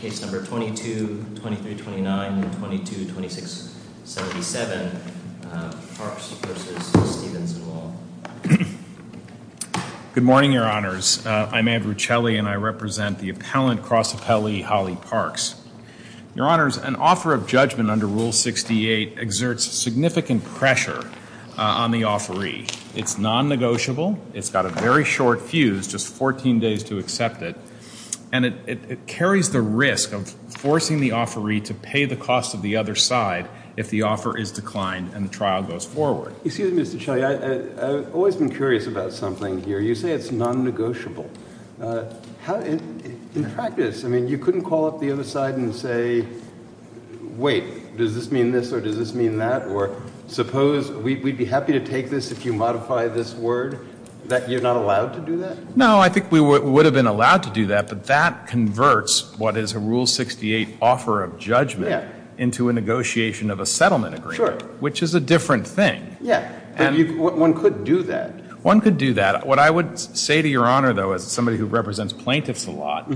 case number 22, 23, 29, 22, 26, 77. Parks v. Stephenson Law. Good morning, Your Honors. I'm Andrew Celi and I represent the appellant cross appellee Holly Parks. Your Honors, an offer of judgment under Rule 68 exerts significant pressure on the offeree. It's non-negotiable. It's got a very short fuse, just 14 days to accept it. And it carries the risk of forcing the offeree to pay the cost of the other side if the offer is declined and the trial goes forward. Excuse me, Mr. Celi, I've always been curious about something here. You say it's non-negotiable. In practice, you couldn't call up the other side and say, wait, does this mean this or does this mean that? Or suppose we'd be happy to take this if you are not allowed to do that? No, I think we would have been allowed to do that, but that converts what is a Rule 68 offer of judgment into a negotiation of a settlement agreement, which is a different thing. Yeah. One could do that. One could do that. What I would say to Your Honor, though, as somebody who represents plaintiffs a lot,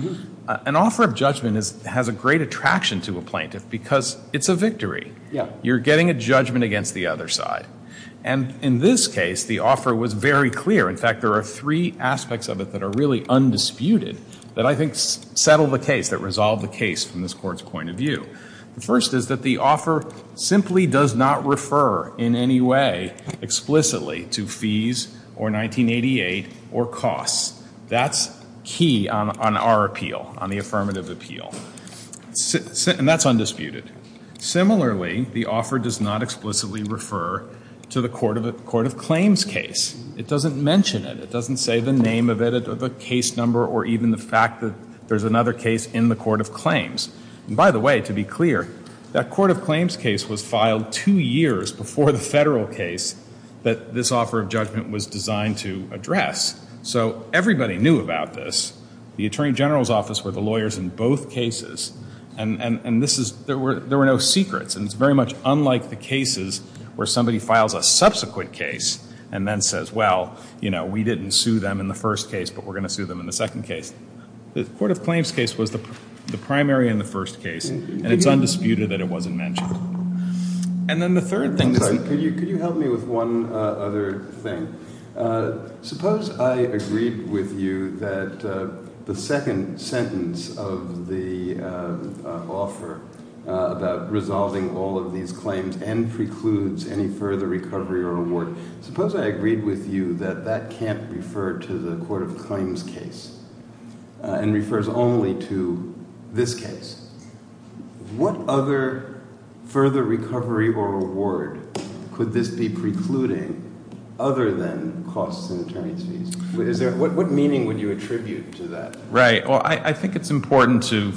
an offer of judgment has a great attraction to a plaintiff because it's a victory. You're getting a judgment against the other side. And in this case, the offer was very clear. In fact, there are three aspects of it that are really undisputed that I think settle the case, that resolve the case from this Court's point of view. The first is that the offer simply does not refer in any way explicitly to fees or 1988 or costs. That's key on our appeal, on the case. It does not explicitly refer to the Court of Claims case. It doesn't mention it. It doesn't say the name of it or the case number or even the fact that there's another case in the Court of Claims. And by the way, to be clear, that Court of Claims case was filed two years before the federal case that this offer of judgment was designed to address. So everybody knew about this. The Attorney General's Office were the lawyers in both cases. And this is – there were no secrets. And it's very much unlike the cases where somebody files a subsequent case and then says, well, you know, we didn't sue them in the first case, but we're going to sue them in the second case. The Court of Claims case was the primary in the first case. And it's undisputed that it wasn't mentioned. And then the third thing – Could you help me with one other thing? Suppose I agreed with you that the second sentence of the offer about resolving all of these claims and precludes any further recovery or award, suppose I agreed with you that that can't refer to the Court of Claims case and could this be precluding other than costs and attorney's fees? What meaning would you attribute to that? Right. Well, I think it's important to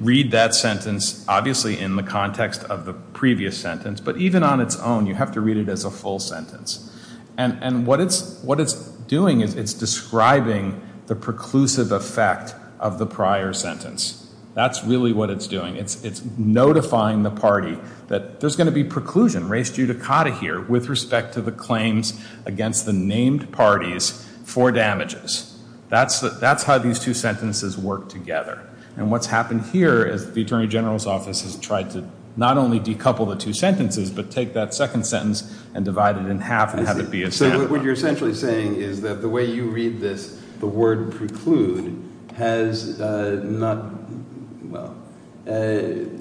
read that sentence, obviously, in the context of the previous sentence. But even on its own, you have to read it as a full sentence. And what it's doing is it's describing the preclusive effect of the prior sentence. That's really what it's doing. It's notifying the party that there's going to be preclusion in res judicata here with respect to the claims against the named parties for damages. That's how these two sentences work together. And what's happened here is the Attorney General's Office has tried to not only decouple the two sentences, but take that second sentence and divide it in half and have it be a standard. So what you're essentially saying is that the way you read this, the word preclude has not, well,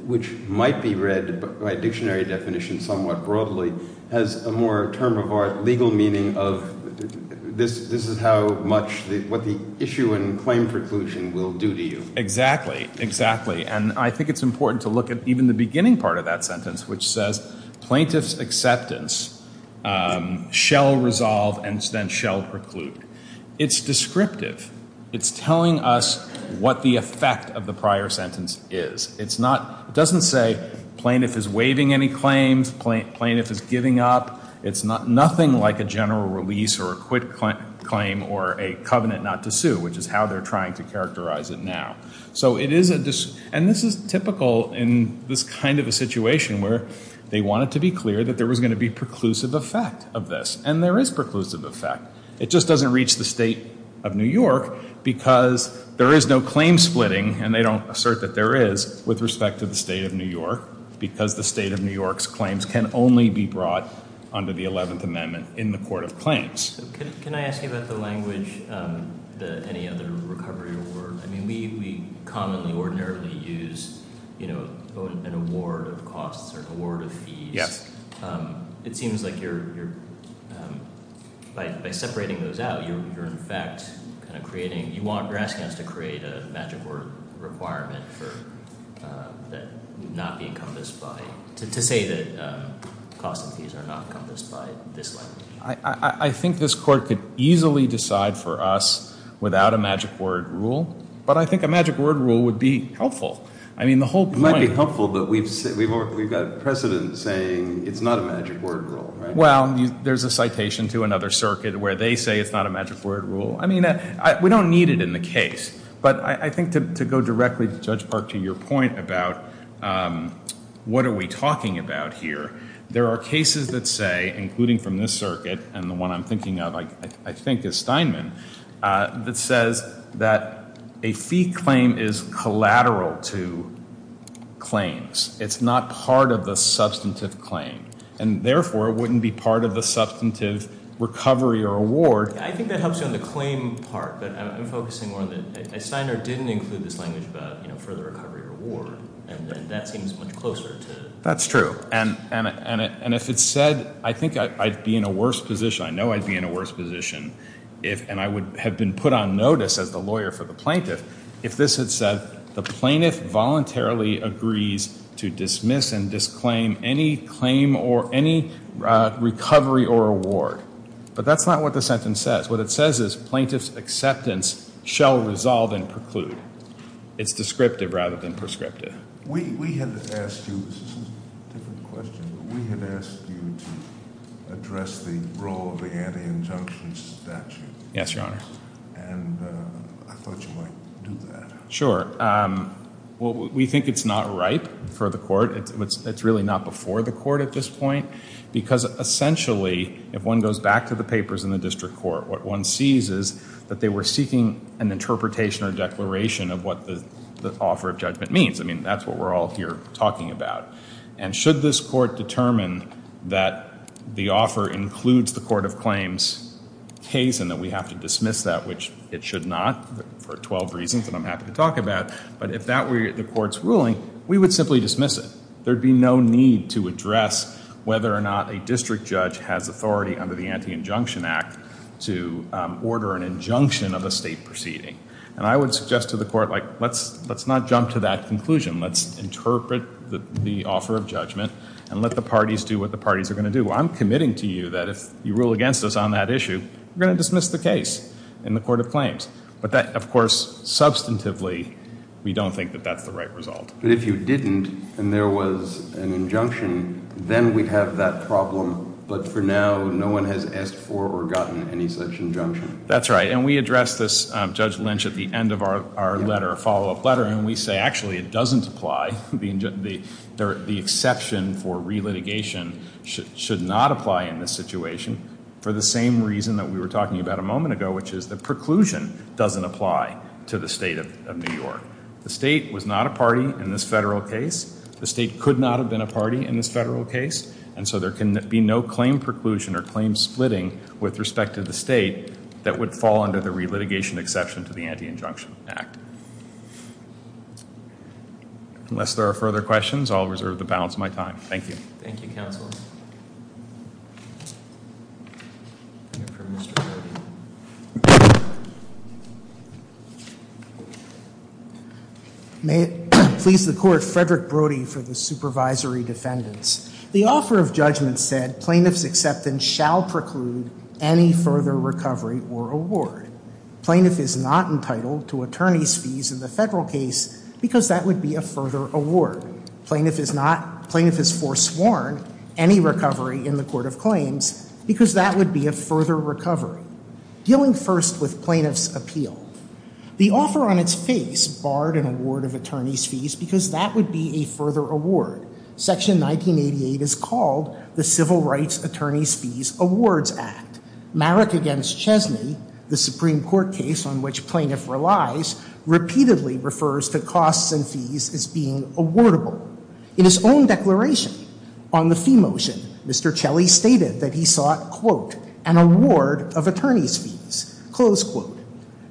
which might be read by dictionary definition somewhat broadly, has a more term of art, legal meaning of this is how much, what the issue in claim preclusion will do to you. Exactly. Exactly. And I think it's important to look at even the beginning part of that sentence, which says plaintiff's acceptance shall resolve and then shall preclude. It's telling us what the effect of the prior sentence is. It's not, it doesn't say plaintiff is waiving any claims, plaintiff is giving up. It's nothing like a general release or a quit claim or a covenant not to sue, which is how they're trying to characterize it now. So it is, and this is typical in this kind of a situation where they wanted to be clear that there was going to be preclusive effect of this. And there is preclusive effect. It just doesn't reach the state of New York because there is no claim splitting, and they don't assert that there is, with respect to the state of New York, because the state of New York's claims can only be brought under the 11th Amendment in the court of claims. Can I ask you about the language, the any other recovery award? I mean, we commonly, ordinarily use, you know, an award of costs or an award of fees. It seems like you're, by separating those out, you're in fact kind of creating, you're asking us to create a magic word requirement that would not be encompassed by, to say that costs and fees are not encompassed by this language. I think this court could easily decide for us without a magic word rule, but I think a magic word rule would be helpful. It might be helpful, but we've got precedent saying it's not a magic word rule, right? Well, there's a citation to another circuit where they say it's not a magic word rule. I mean, we don't need it in the case. But I think to go directly, Judge Park, to your point about what are we talking about here, there are cases that say, including from this circuit and the one I'm thinking of, I think is Steinman, that says that a fee claim is collateral to claims. It's not part of the substantive claim, and therefore, it wouldn't be part of the substantive recovery or award. I think that helps you on the claim part, but I'm focusing more on that. Steiner didn't include this language about, you know, for the recovery or award, and that seems much closer to. That's true, and if it said, I think I'd be in a worse position. I know I'd be in a worse position, and I would have been put on notice as the lawyer for the plaintiff, if this had said the plaintiff voluntarily agrees to dismiss and disclaim any claim or any recovery or award. But that's not what the sentence says. What it says is plaintiff's acceptance shall resolve and preclude. It's descriptive rather than prescriptive. We had asked you to address the role of the anti-injunction statute. Yes, Your Honor. And I thought you might do that. Sure. Well, we think it's not ripe for the court. It's really not before the court at this point because essentially, if one goes back to the papers in the district court, what one sees is that they were seeking an interpretation or declaration of what the offer of judgment means. I mean, that's what we're all here talking about. And should this court determine that the offer includes the court of claims case and that we have to dismiss that, which it should not for 12 reasons that I'm happy to talk about, but if that were the court's ruling, we would simply dismiss it. There would be no need to address whether or not a district judge has authority under the Anti-Injunction Act to order an injunction of a state proceeding. And I would suggest to the court, like, let's not jump to that conclusion. Let's interpret the offer of judgment and let the parties do what the parties are going to do. I'm committing to you that if you rule against us on that issue, we're going to dismiss the case in the court of claims. But that, of course, substantively, we don't think that that's the right result. But if you didn't and there was an injunction, then we'd have that problem. But for now, no one has asked for or gotten any such injunction. That's right. And we addressed this, Judge Lynch, at the end of our letter, follow-up letter. And we say, actually, it doesn't apply. The exception for relitigation should not apply in this situation for the same reason that we were talking about a moment ago, which is the preclusion doesn't apply to the state of New York. The state was not a party in this federal case. The state could not have been a party in this federal case. And so there can be no claim preclusion or claim splitting with respect to the state that would fall under the relitigation exception to the Anti-Injunction Act. Unless there are further questions, I'll reserve the balance of my time. Thank you. Thank you, Counsel. May it please the Court, Frederick Brody for the supervisory defendants. The offer of judgment said plaintiff's acceptance shall preclude any further recovery or award. Plaintiff is not entitled to attorney's fees in the federal case because that would be a further award. Plaintiff is not, plaintiff is foresworn any recovery in the court of claims because that would be a further recovery. Dealing first with plaintiff's appeal. The offer on its face barred an award of attorney's fees because that would be a further award. Section 1988 is called the Civil Rights Attorney's Fees Awards Act. Marrick against Chesney, the Supreme Court case on which plaintiff relies, repeatedly refers to costs and fees as being awardable. In his own declaration on the fee motion, Mr. Chelley stated that he sought, quote, an award of attorney's fees, close quote.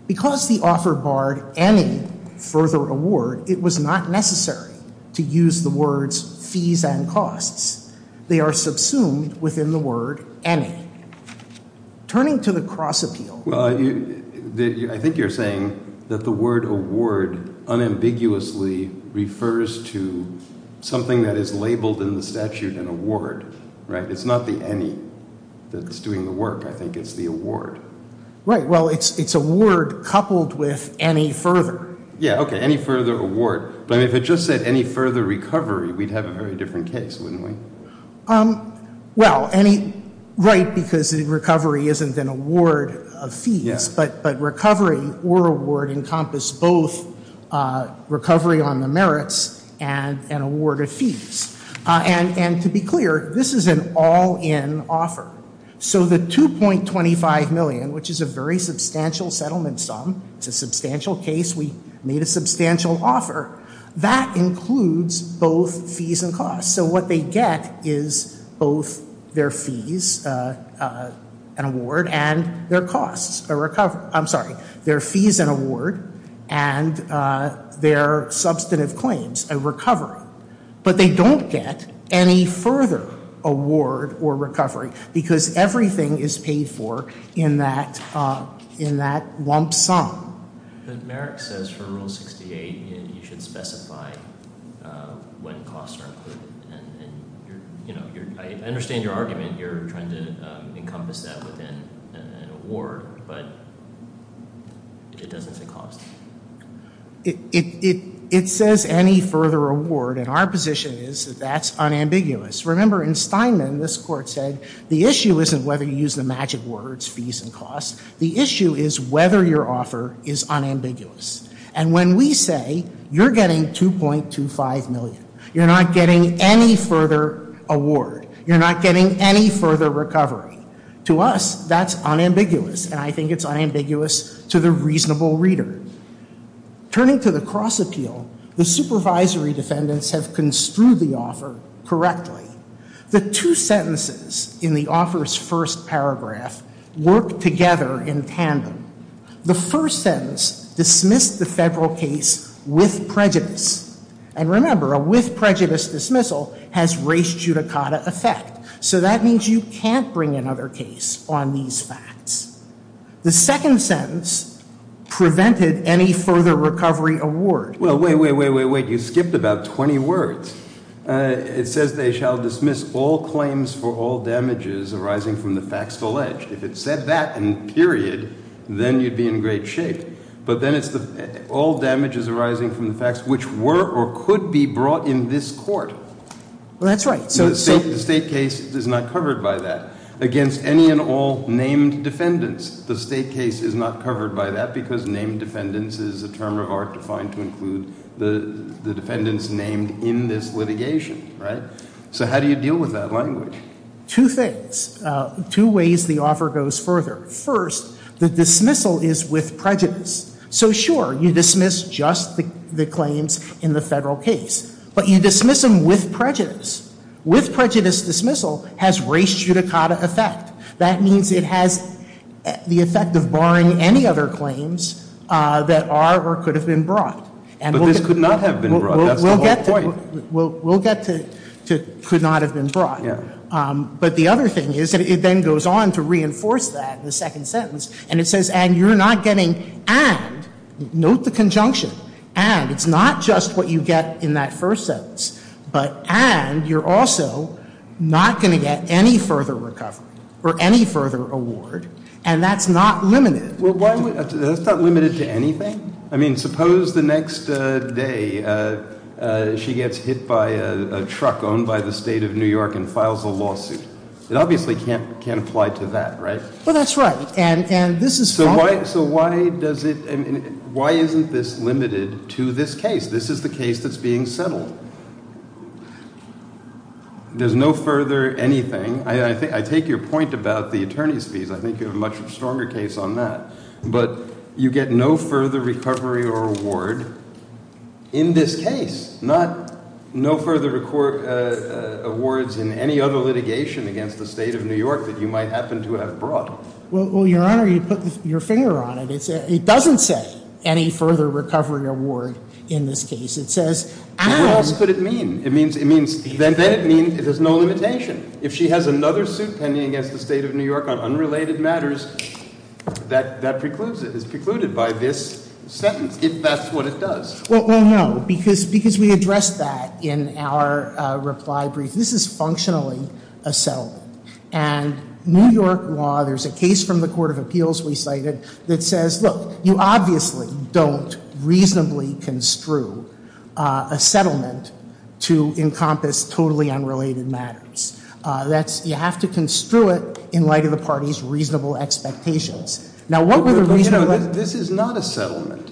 Because the offer barred any further award, it was not necessary to use the words fees and costs. They are subsumed within the word any. Turning to the cross appeal. Well, I think you're saying that the word award unambiguously refers to something that is labeled in the statute an award, right? It's not the any that's doing the work. I think it's the award. Right. Well, it's a word coupled with any further. Yeah, okay. Any further award. But if it just said any further recovery, we'd have a very different case, wouldn't we? Well, right, because recovery isn't an award of fees. But recovery or award encompass both recovery on the merits and an award of fees. And to be clear, this is an all-in offer. So the $2.25 million, which is a very substantial settlement sum, it's a substantial case. We made a substantial offer. That includes both fees and costs. So what they get is both their fees, an award, and their costs. I'm sorry, their fees, an award, and their substantive claims, a recovery. But they don't get any further award or recovery because everything is paid for in that lump sum. The merit says for Rule 68 you should specify when costs are included. And, you know, I understand your argument. You're trying to encompass that within an award, but it doesn't say costs. It says any further award, and our position is that that's unambiguous. Remember, in Steinman, this court said the issue isn't whether you use the magic words, fees and costs. The issue is whether your offer is unambiguous. And when we say you're getting $2.25 million, you're not getting any further award. You're not getting any further recovery. To us, that's unambiguous, and I think it's unambiguous to the reasonable reader. Turning to the cross appeal, the supervisory defendants have construed the offer correctly. The two sentences in the offer's first paragraph work together in tandem. The first sentence dismissed the federal case with prejudice. And remember, a with prejudice dismissal has race judicata effect. So that means you can't bring another case on these facts. The second sentence prevented any further recovery award. Well, wait, wait, wait, wait, wait. You skipped about 20 words. It says they shall dismiss all claims for all damages arising from the facts alleged. If it said that in period, then you'd be in great shape. But then it's all damages arising from the facts which were or could be brought in this court. Well, that's right. The state case is not covered by that. Against any and all named defendants, the state case is not covered by that because named defendants is a term of art defined to include the defendants named in this litigation, right? So how do you deal with that language? Two things. Two ways the offer goes further. First, the dismissal is with prejudice. So, sure, you dismiss just the claims in the federal case. But you dismiss them with prejudice. With prejudice dismissal has race judicata effect. That means it has the effect of barring any other claims that are or could have been brought. But this could not have been brought. That's the whole point. We'll get to could not have been brought. Yeah. But the other thing is that it then goes on to reinforce that in the second sentence. And it says, and you're not getting and, note the conjunction, and, it's not just what you get in that first sentence, but and you're also not going to get any further recovery or any further award. And that's not limited. Well, that's not limited to anything. I mean, suppose the next day she gets hit by a truck owned by the State of New York and files a lawsuit. It obviously can't apply to that, right? Well, that's right. So why isn't this limited to this case? This is the case that's being settled. There's no further anything. I take your point about the attorney's fees. I think you have a much stronger case on that. But you get no further recovery or award in this case. No further awards in any other litigation against the State of New York that you might happen to have brought. Well, Your Honor, you put your finger on it. It doesn't say any further recovery or award in this case. It says, and What else could it mean? It means, then it means it has no limitation. If she has another suit pending against the State of New York on unrelated matters, that precludes it. It's precluded by this sentence. That's what it does. Well, no, because we addressed that in our reply brief. This is functionally a settlement. And New York law, there's a case from the Court of Appeals we cited that says, look, you obviously don't reasonably construe a settlement to encompass totally unrelated matters. You have to construe it in light of the party's reasonable expectations. Now, what would a reasonable This is not a settlement.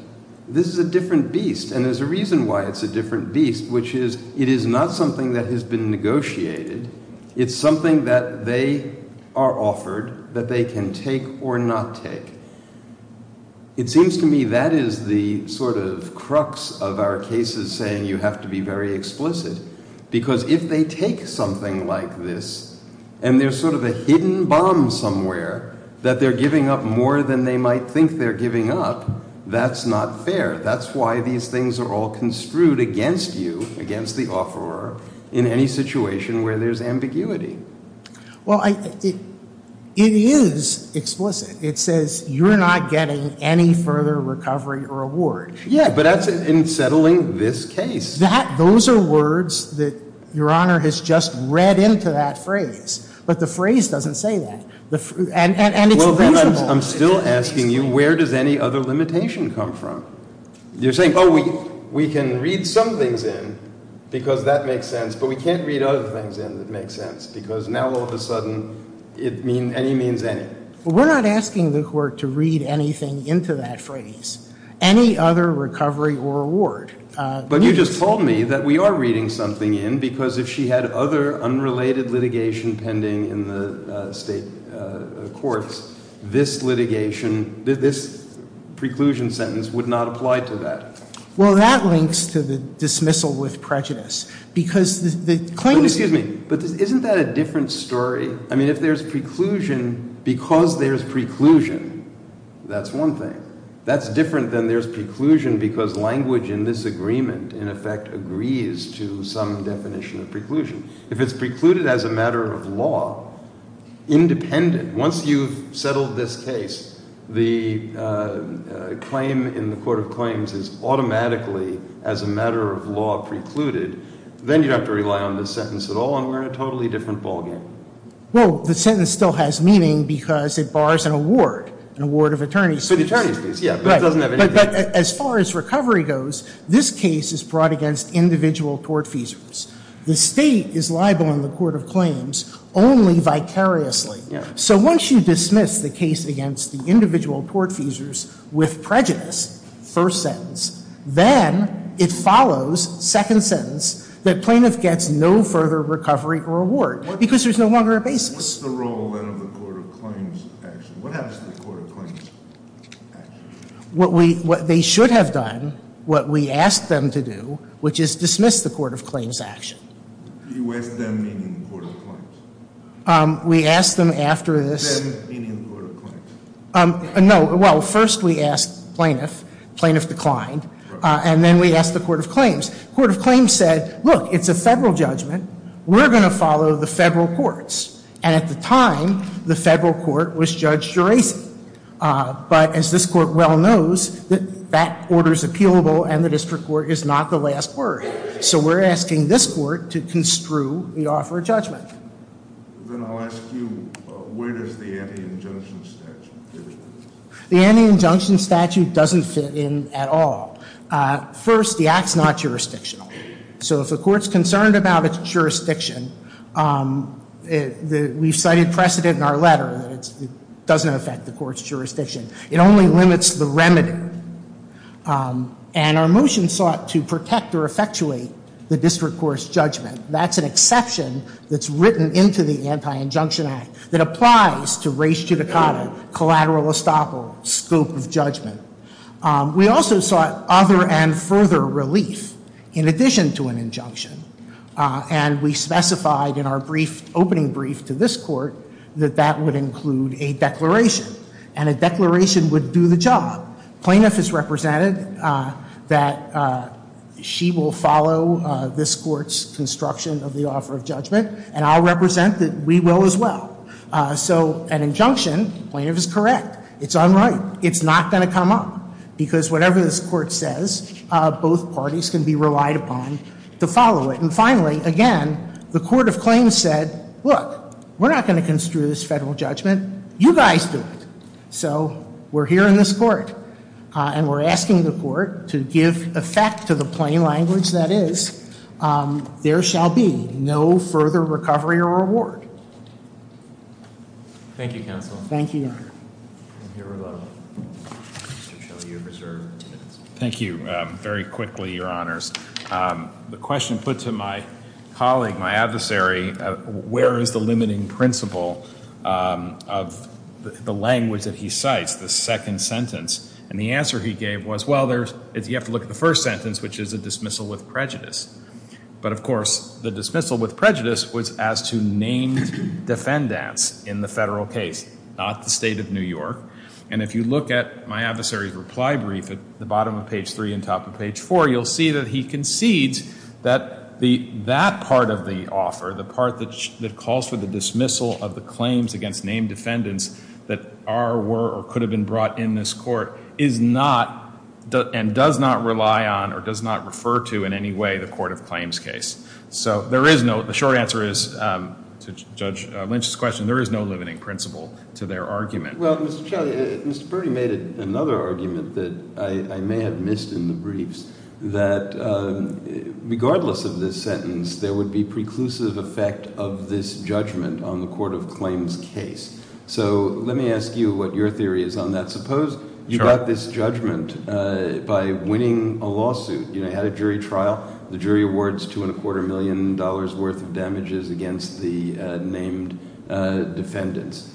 This is a different beast. And there's a reason why it's a different beast, which is it is not something that has been negotiated. It's something that they are offered that they can take or not take. It seems to me that is the sort of crux of our cases saying you have to be very explicit. Because if they take something like this, and there's sort of a hidden bomb somewhere that they're giving up more than they might think they're giving up, that's not fair. That's why these things are all construed against you, against the offeror, in any situation where there's ambiguity. Well, it is explicit. It says you're not getting any further recovery or reward. Yeah, but that's in settling this case. Those are words that Your Honor has just read into that phrase. But the phrase doesn't say that. And it's reasonable. I'm still asking you, where does any other limitation come from? You're saying, oh, we can read some things in because that makes sense, but we can't read other things in that make sense. Because now, all of a sudden, any means any. We're not asking the court to read anything into that phrase. Any other recovery or reward. But you just told me that we are reading something in. Because if she had other unrelated litigation pending in the state courts, this litigation, this preclusion sentence would not apply to that. Well, that links to the dismissal with prejudice. Excuse me, but isn't that a different story? I mean, if there's preclusion because there's preclusion, that's one thing. That's different than there's preclusion because language in this agreement, in effect, agrees to some definition of preclusion. If it's precluded as a matter of law, independent, once you've settled this case, the claim in the court of claims is automatically, as a matter of law, precluded, then you don't have to rely on this sentence at all and we're in a totally different ballgame. Well, the sentence still has meaning because it bars an award, an award of attorneys. But as far as recovery goes, this case is brought against individual tortfeasors. The state is liable in the court of claims only vicariously. So once you dismiss the case against the individual tortfeasors with prejudice, first sentence, then it follows, second sentence, that plaintiff gets no further recovery or reward because there's no longer a basis. What's the role, then, of the court of claims action? What happens to the court of claims action? What they should have done, what we asked them to do, which is dismiss the court of claims action. You asked them, meaning the court of claims? We asked them after this. Them, meaning the court of claims? No, well, first we asked plaintiff, plaintiff declined, and then we asked the court of claims. Court of claims said, look, it's a federal judgment. We're going to follow the federal courts. And at the time, the federal court was Judge Geraci. But as this court well knows, that order is appealable and the district court is not the last word. So we're asking this court to construe the offer of judgment. Then I'll ask you, where does the anti-injunction statute fit in? The anti-injunction statute doesn't fit in at all. First, the act's not jurisdictional. So if a court's concerned about its jurisdiction, we've cited precedent in our letter that it doesn't affect the court's jurisdiction. It only limits the remedy. And our motion sought to protect or effectuate the district court's judgment. That's an exception that's written into the anti-injunction act that applies to res judicata, collateral estoppel, scope of judgment. We also sought other and further relief in addition to an injunction. And we specified in our opening brief to this court that that would include a declaration. And a declaration would do the job. Plaintiff is represented that she will follow this court's construction of the offer of judgment. And I'll represent that we will as well. So an injunction, plaintiff is correct. It's unright. It's not going to come up. Because whatever this court says, both parties can be relied upon to follow it. And finally, again, the court of claims said, look, we're not going to construe this federal judgment. You guys do it. So we're here in this court. And we're asking the court to give effect to the plain language that is, there shall be no further recovery or reward. Thank you, counsel. Thank you, Your Honor. Thank you, Your Honor. Mr. Shelley, you're reserved. Thank you. Very quickly, Your Honors. The question put to my colleague, my adversary, where is the limiting principle of the language that he cites, the second sentence? And the answer he gave was, well, you have to look at the first sentence, which is a dismissal with prejudice. But of course, the dismissal with prejudice was as to named defendants in the federal case, not the state of New York. And if you look at my adversary's reply brief at the bottom of page three and top of page four, you'll see that he concedes that that part of the offer, the part that calls for the dismissal of the claims against named defendants that are, were, or could have been brought in this court, is not and does not rely on or does not refer to in any way the court of claims case. So there is no, the short answer is, to Judge Lynch's question, there is no limiting principle to their argument. Well, Mr. Shelley, Mr. Burdi made another argument that I may have missed in the briefs, that regardless of this sentence, there would be preclusive effect of this judgment on the court of claims case. So let me ask you what your theory is on that. Suppose you got this judgment by winning a lawsuit. You had a jury trial. The jury awards $2.25 million worth of damages against the named defendants.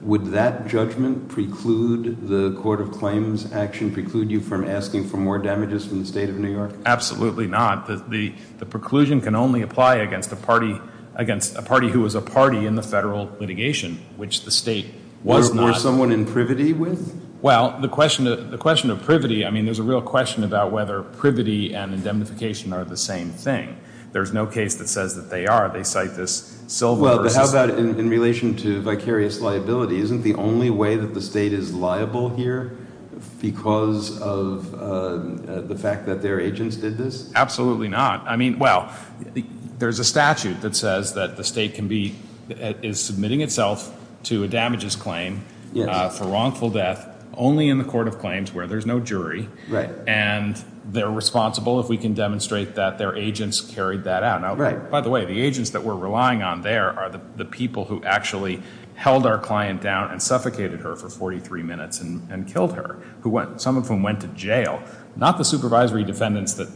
Would that judgment preclude the court of claims action, preclude you from asking for more damages from the state of New York? Absolutely not. The preclusion can only apply against a party who was a party in the federal litigation, which the state was not. Was someone in privity with? Well, the question of privity, I mean, there's a real question about whether privity and indemnification are the same thing. There's no case that says that they are. They cite this silver versus. In relation to vicarious liability, isn't the only way that the state is liable here because of the fact that their agents did this? Absolutely not. I mean, well, there's a statute that says that the state is submitting itself to a damages claim for wrongful death only in the court of claims where there's no jury. And they're responsible if we can demonstrate that their agents carried that out. By the way, the agents that we're relying on there are the people who actually held our client down and suffocated her for 43 minutes and killed her, some of whom went to jail. Not the supervisory defendants that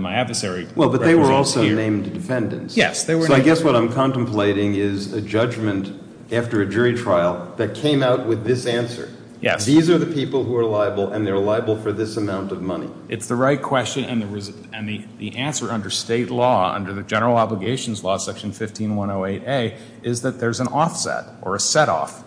my adversary represents here. Well, but they were also named defendants. Yes. So I guess what I'm contemplating is a judgment after a jury trial that came out with this answer. Yes. These are the people who are liable, and they're liable for this amount of money. So it's the right question, and the answer under state law, under the general obligations law, section 15108A, is that there's an offset or a setoff.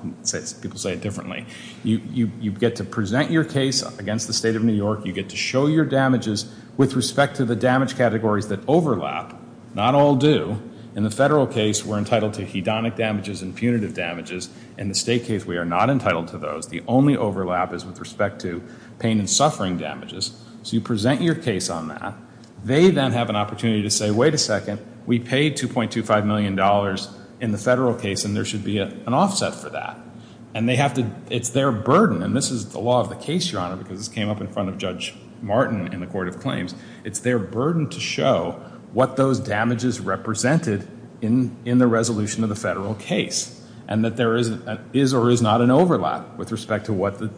People say it differently. You get to present your case against the state of New York. You get to show your damages with respect to the damage categories that overlap. Not all do. In the federal case, we're entitled to hedonic damages and punitive damages. In the state case, we are not entitled to those. The only overlap is with respect to pain and suffering damages. So you present your case on that. They then have an opportunity to say, wait a second, we paid $2.25 million in the federal case, and there should be an offset for that. And it's their burden, and this is the law of the case, Your Honor, because this came up in front of Judge Martin in the court of claims. It's their burden to show what those damages represented in the resolution of the federal case, and that there is or is not an overlap with respect to what the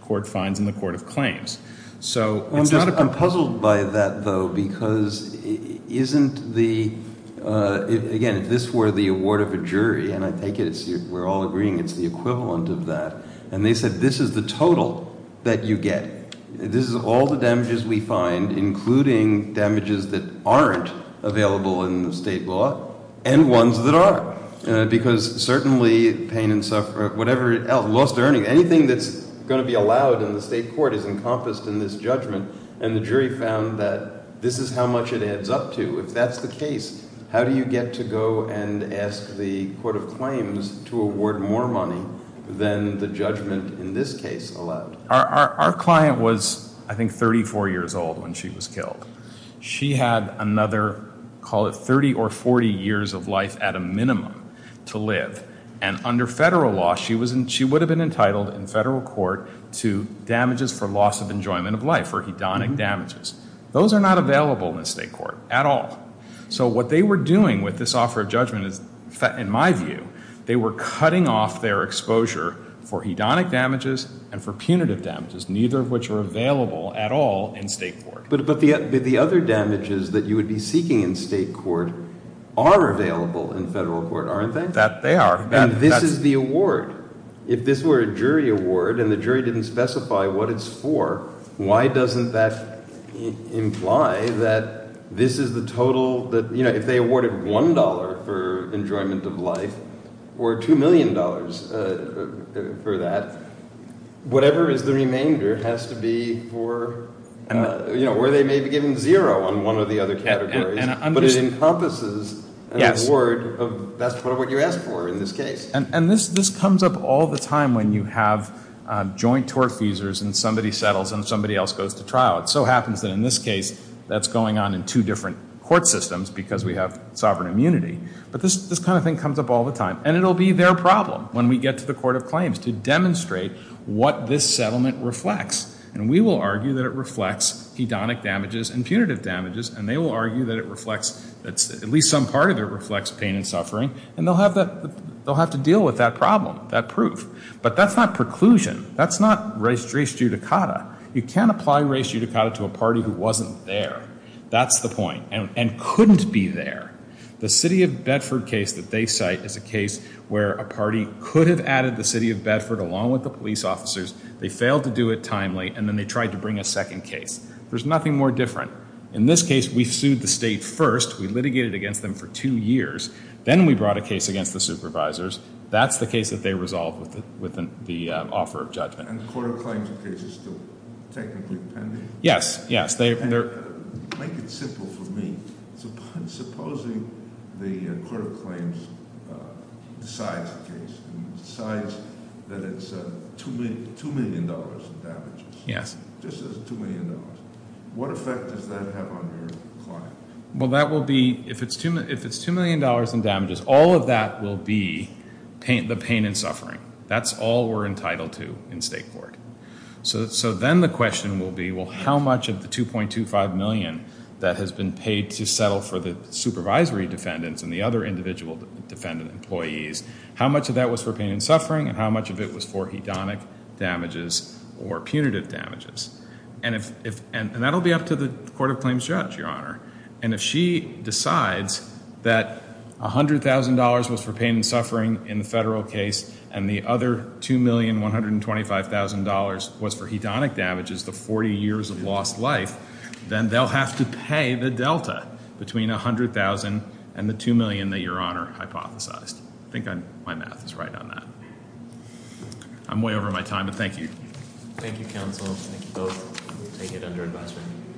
court finds in the court of claims. So it's not a problem. I'm puzzled by that, though, because isn't the, again, if this were the award of a jury, and I take it we're all agreeing it's the equivalent of that, and they said this is the total that you get. This is all the damages we find, including damages that aren't available in the state law and ones that are, because certainly pain and suffering, whatever else, lost earning, anything that's going to be allowed in the state court is encompassed in this judgment, and the jury found that this is how much it adds up to. If that's the case, how do you get to go and ask the court of claims to award more money than the judgment in this case allowed? Our client was, I think, 34 years old when she was killed. She had another, call it 30 or 40 years of life at a minimum to live, and under federal law she would have been entitled in federal court to damages for loss of enjoyment of life or hedonic damages. Those are not available in the state court at all. So what they were doing with this offer of judgment is, in my view, they were cutting off their exposure for hedonic damages and for punitive damages, neither of which were available at all in state court. But the other damages that you would be seeking in state court are available in federal court, aren't they? They are. And this is the award. If this were a jury award and the jury didn't specify what it's for, why doesn't that imply that this is the total that, you know, if they awarded $1 for enjoyment of life or $2 million for that, whatever is the remainder has to be for, you know, where they may be given zero on one or the other categories, but it encompasses an award of what you asked for in this case. And this comes up all the time when you have joint tort feasors and somebody settles and somebody else goes to trial. It so happens that in this case that's going on in two different court systems because we have sovereign immunity. But this kind of thing comes up all the time, and it will be their problem when we get to the court of claims to demonstrate what this settlement reflects. And we will argue that it reflects hedonic damages and punitive damages, and they will argue that it reflects, at least some part of it reflects pain and suffering, and they'll have to deal with that problem, that proof. But that's not preclusion. That's not res judicata. You can't apply res judicata to a party who wasn't there. That's the point, and couldn't be there. The city of Bedford case that they cite is a case where a party could have added the city of Bedford along with the police officers. They failed to do it timely, and then they tried to bring a second case. There's nothing more different. In this case, we sued the state first. We litigated against them for two years. Then we brought a case against the supervisors. That's the case that they resolved with the offer of judgment. And the court of claims case is still technically pending? Yes, yes. Make it simple for me. Supposing the court of claims decides a case and decides that it's $2 million in damages. Yes. Just says $2 million. What effect does that have on your client? Well, that will be, if it's $2 million in damages, all of that will be the pain and suffering. That's all we're entitled to in state court. So then the question will be, well, how much of the $2.25 million that has been paid to settle for the supervisory defendants and the other individual defendant employees, how much of that was for pain and suffering and how much of it was for hedonic damages or punitive damages? And that will be up to the court of claims judge, Your Honor. And if she decides that $100,000 was for pain and suffering in the federal case and the other $2,125,000 was for hedonic damages, the 40 years of lost life, then they'll have to pay the delta between $100,000 and the $2 million that Your Honor hypothesized. I think my math is right on that. I'm way over my time, but thank you. Thank you, counsel. Thank you both. We take it under advisement.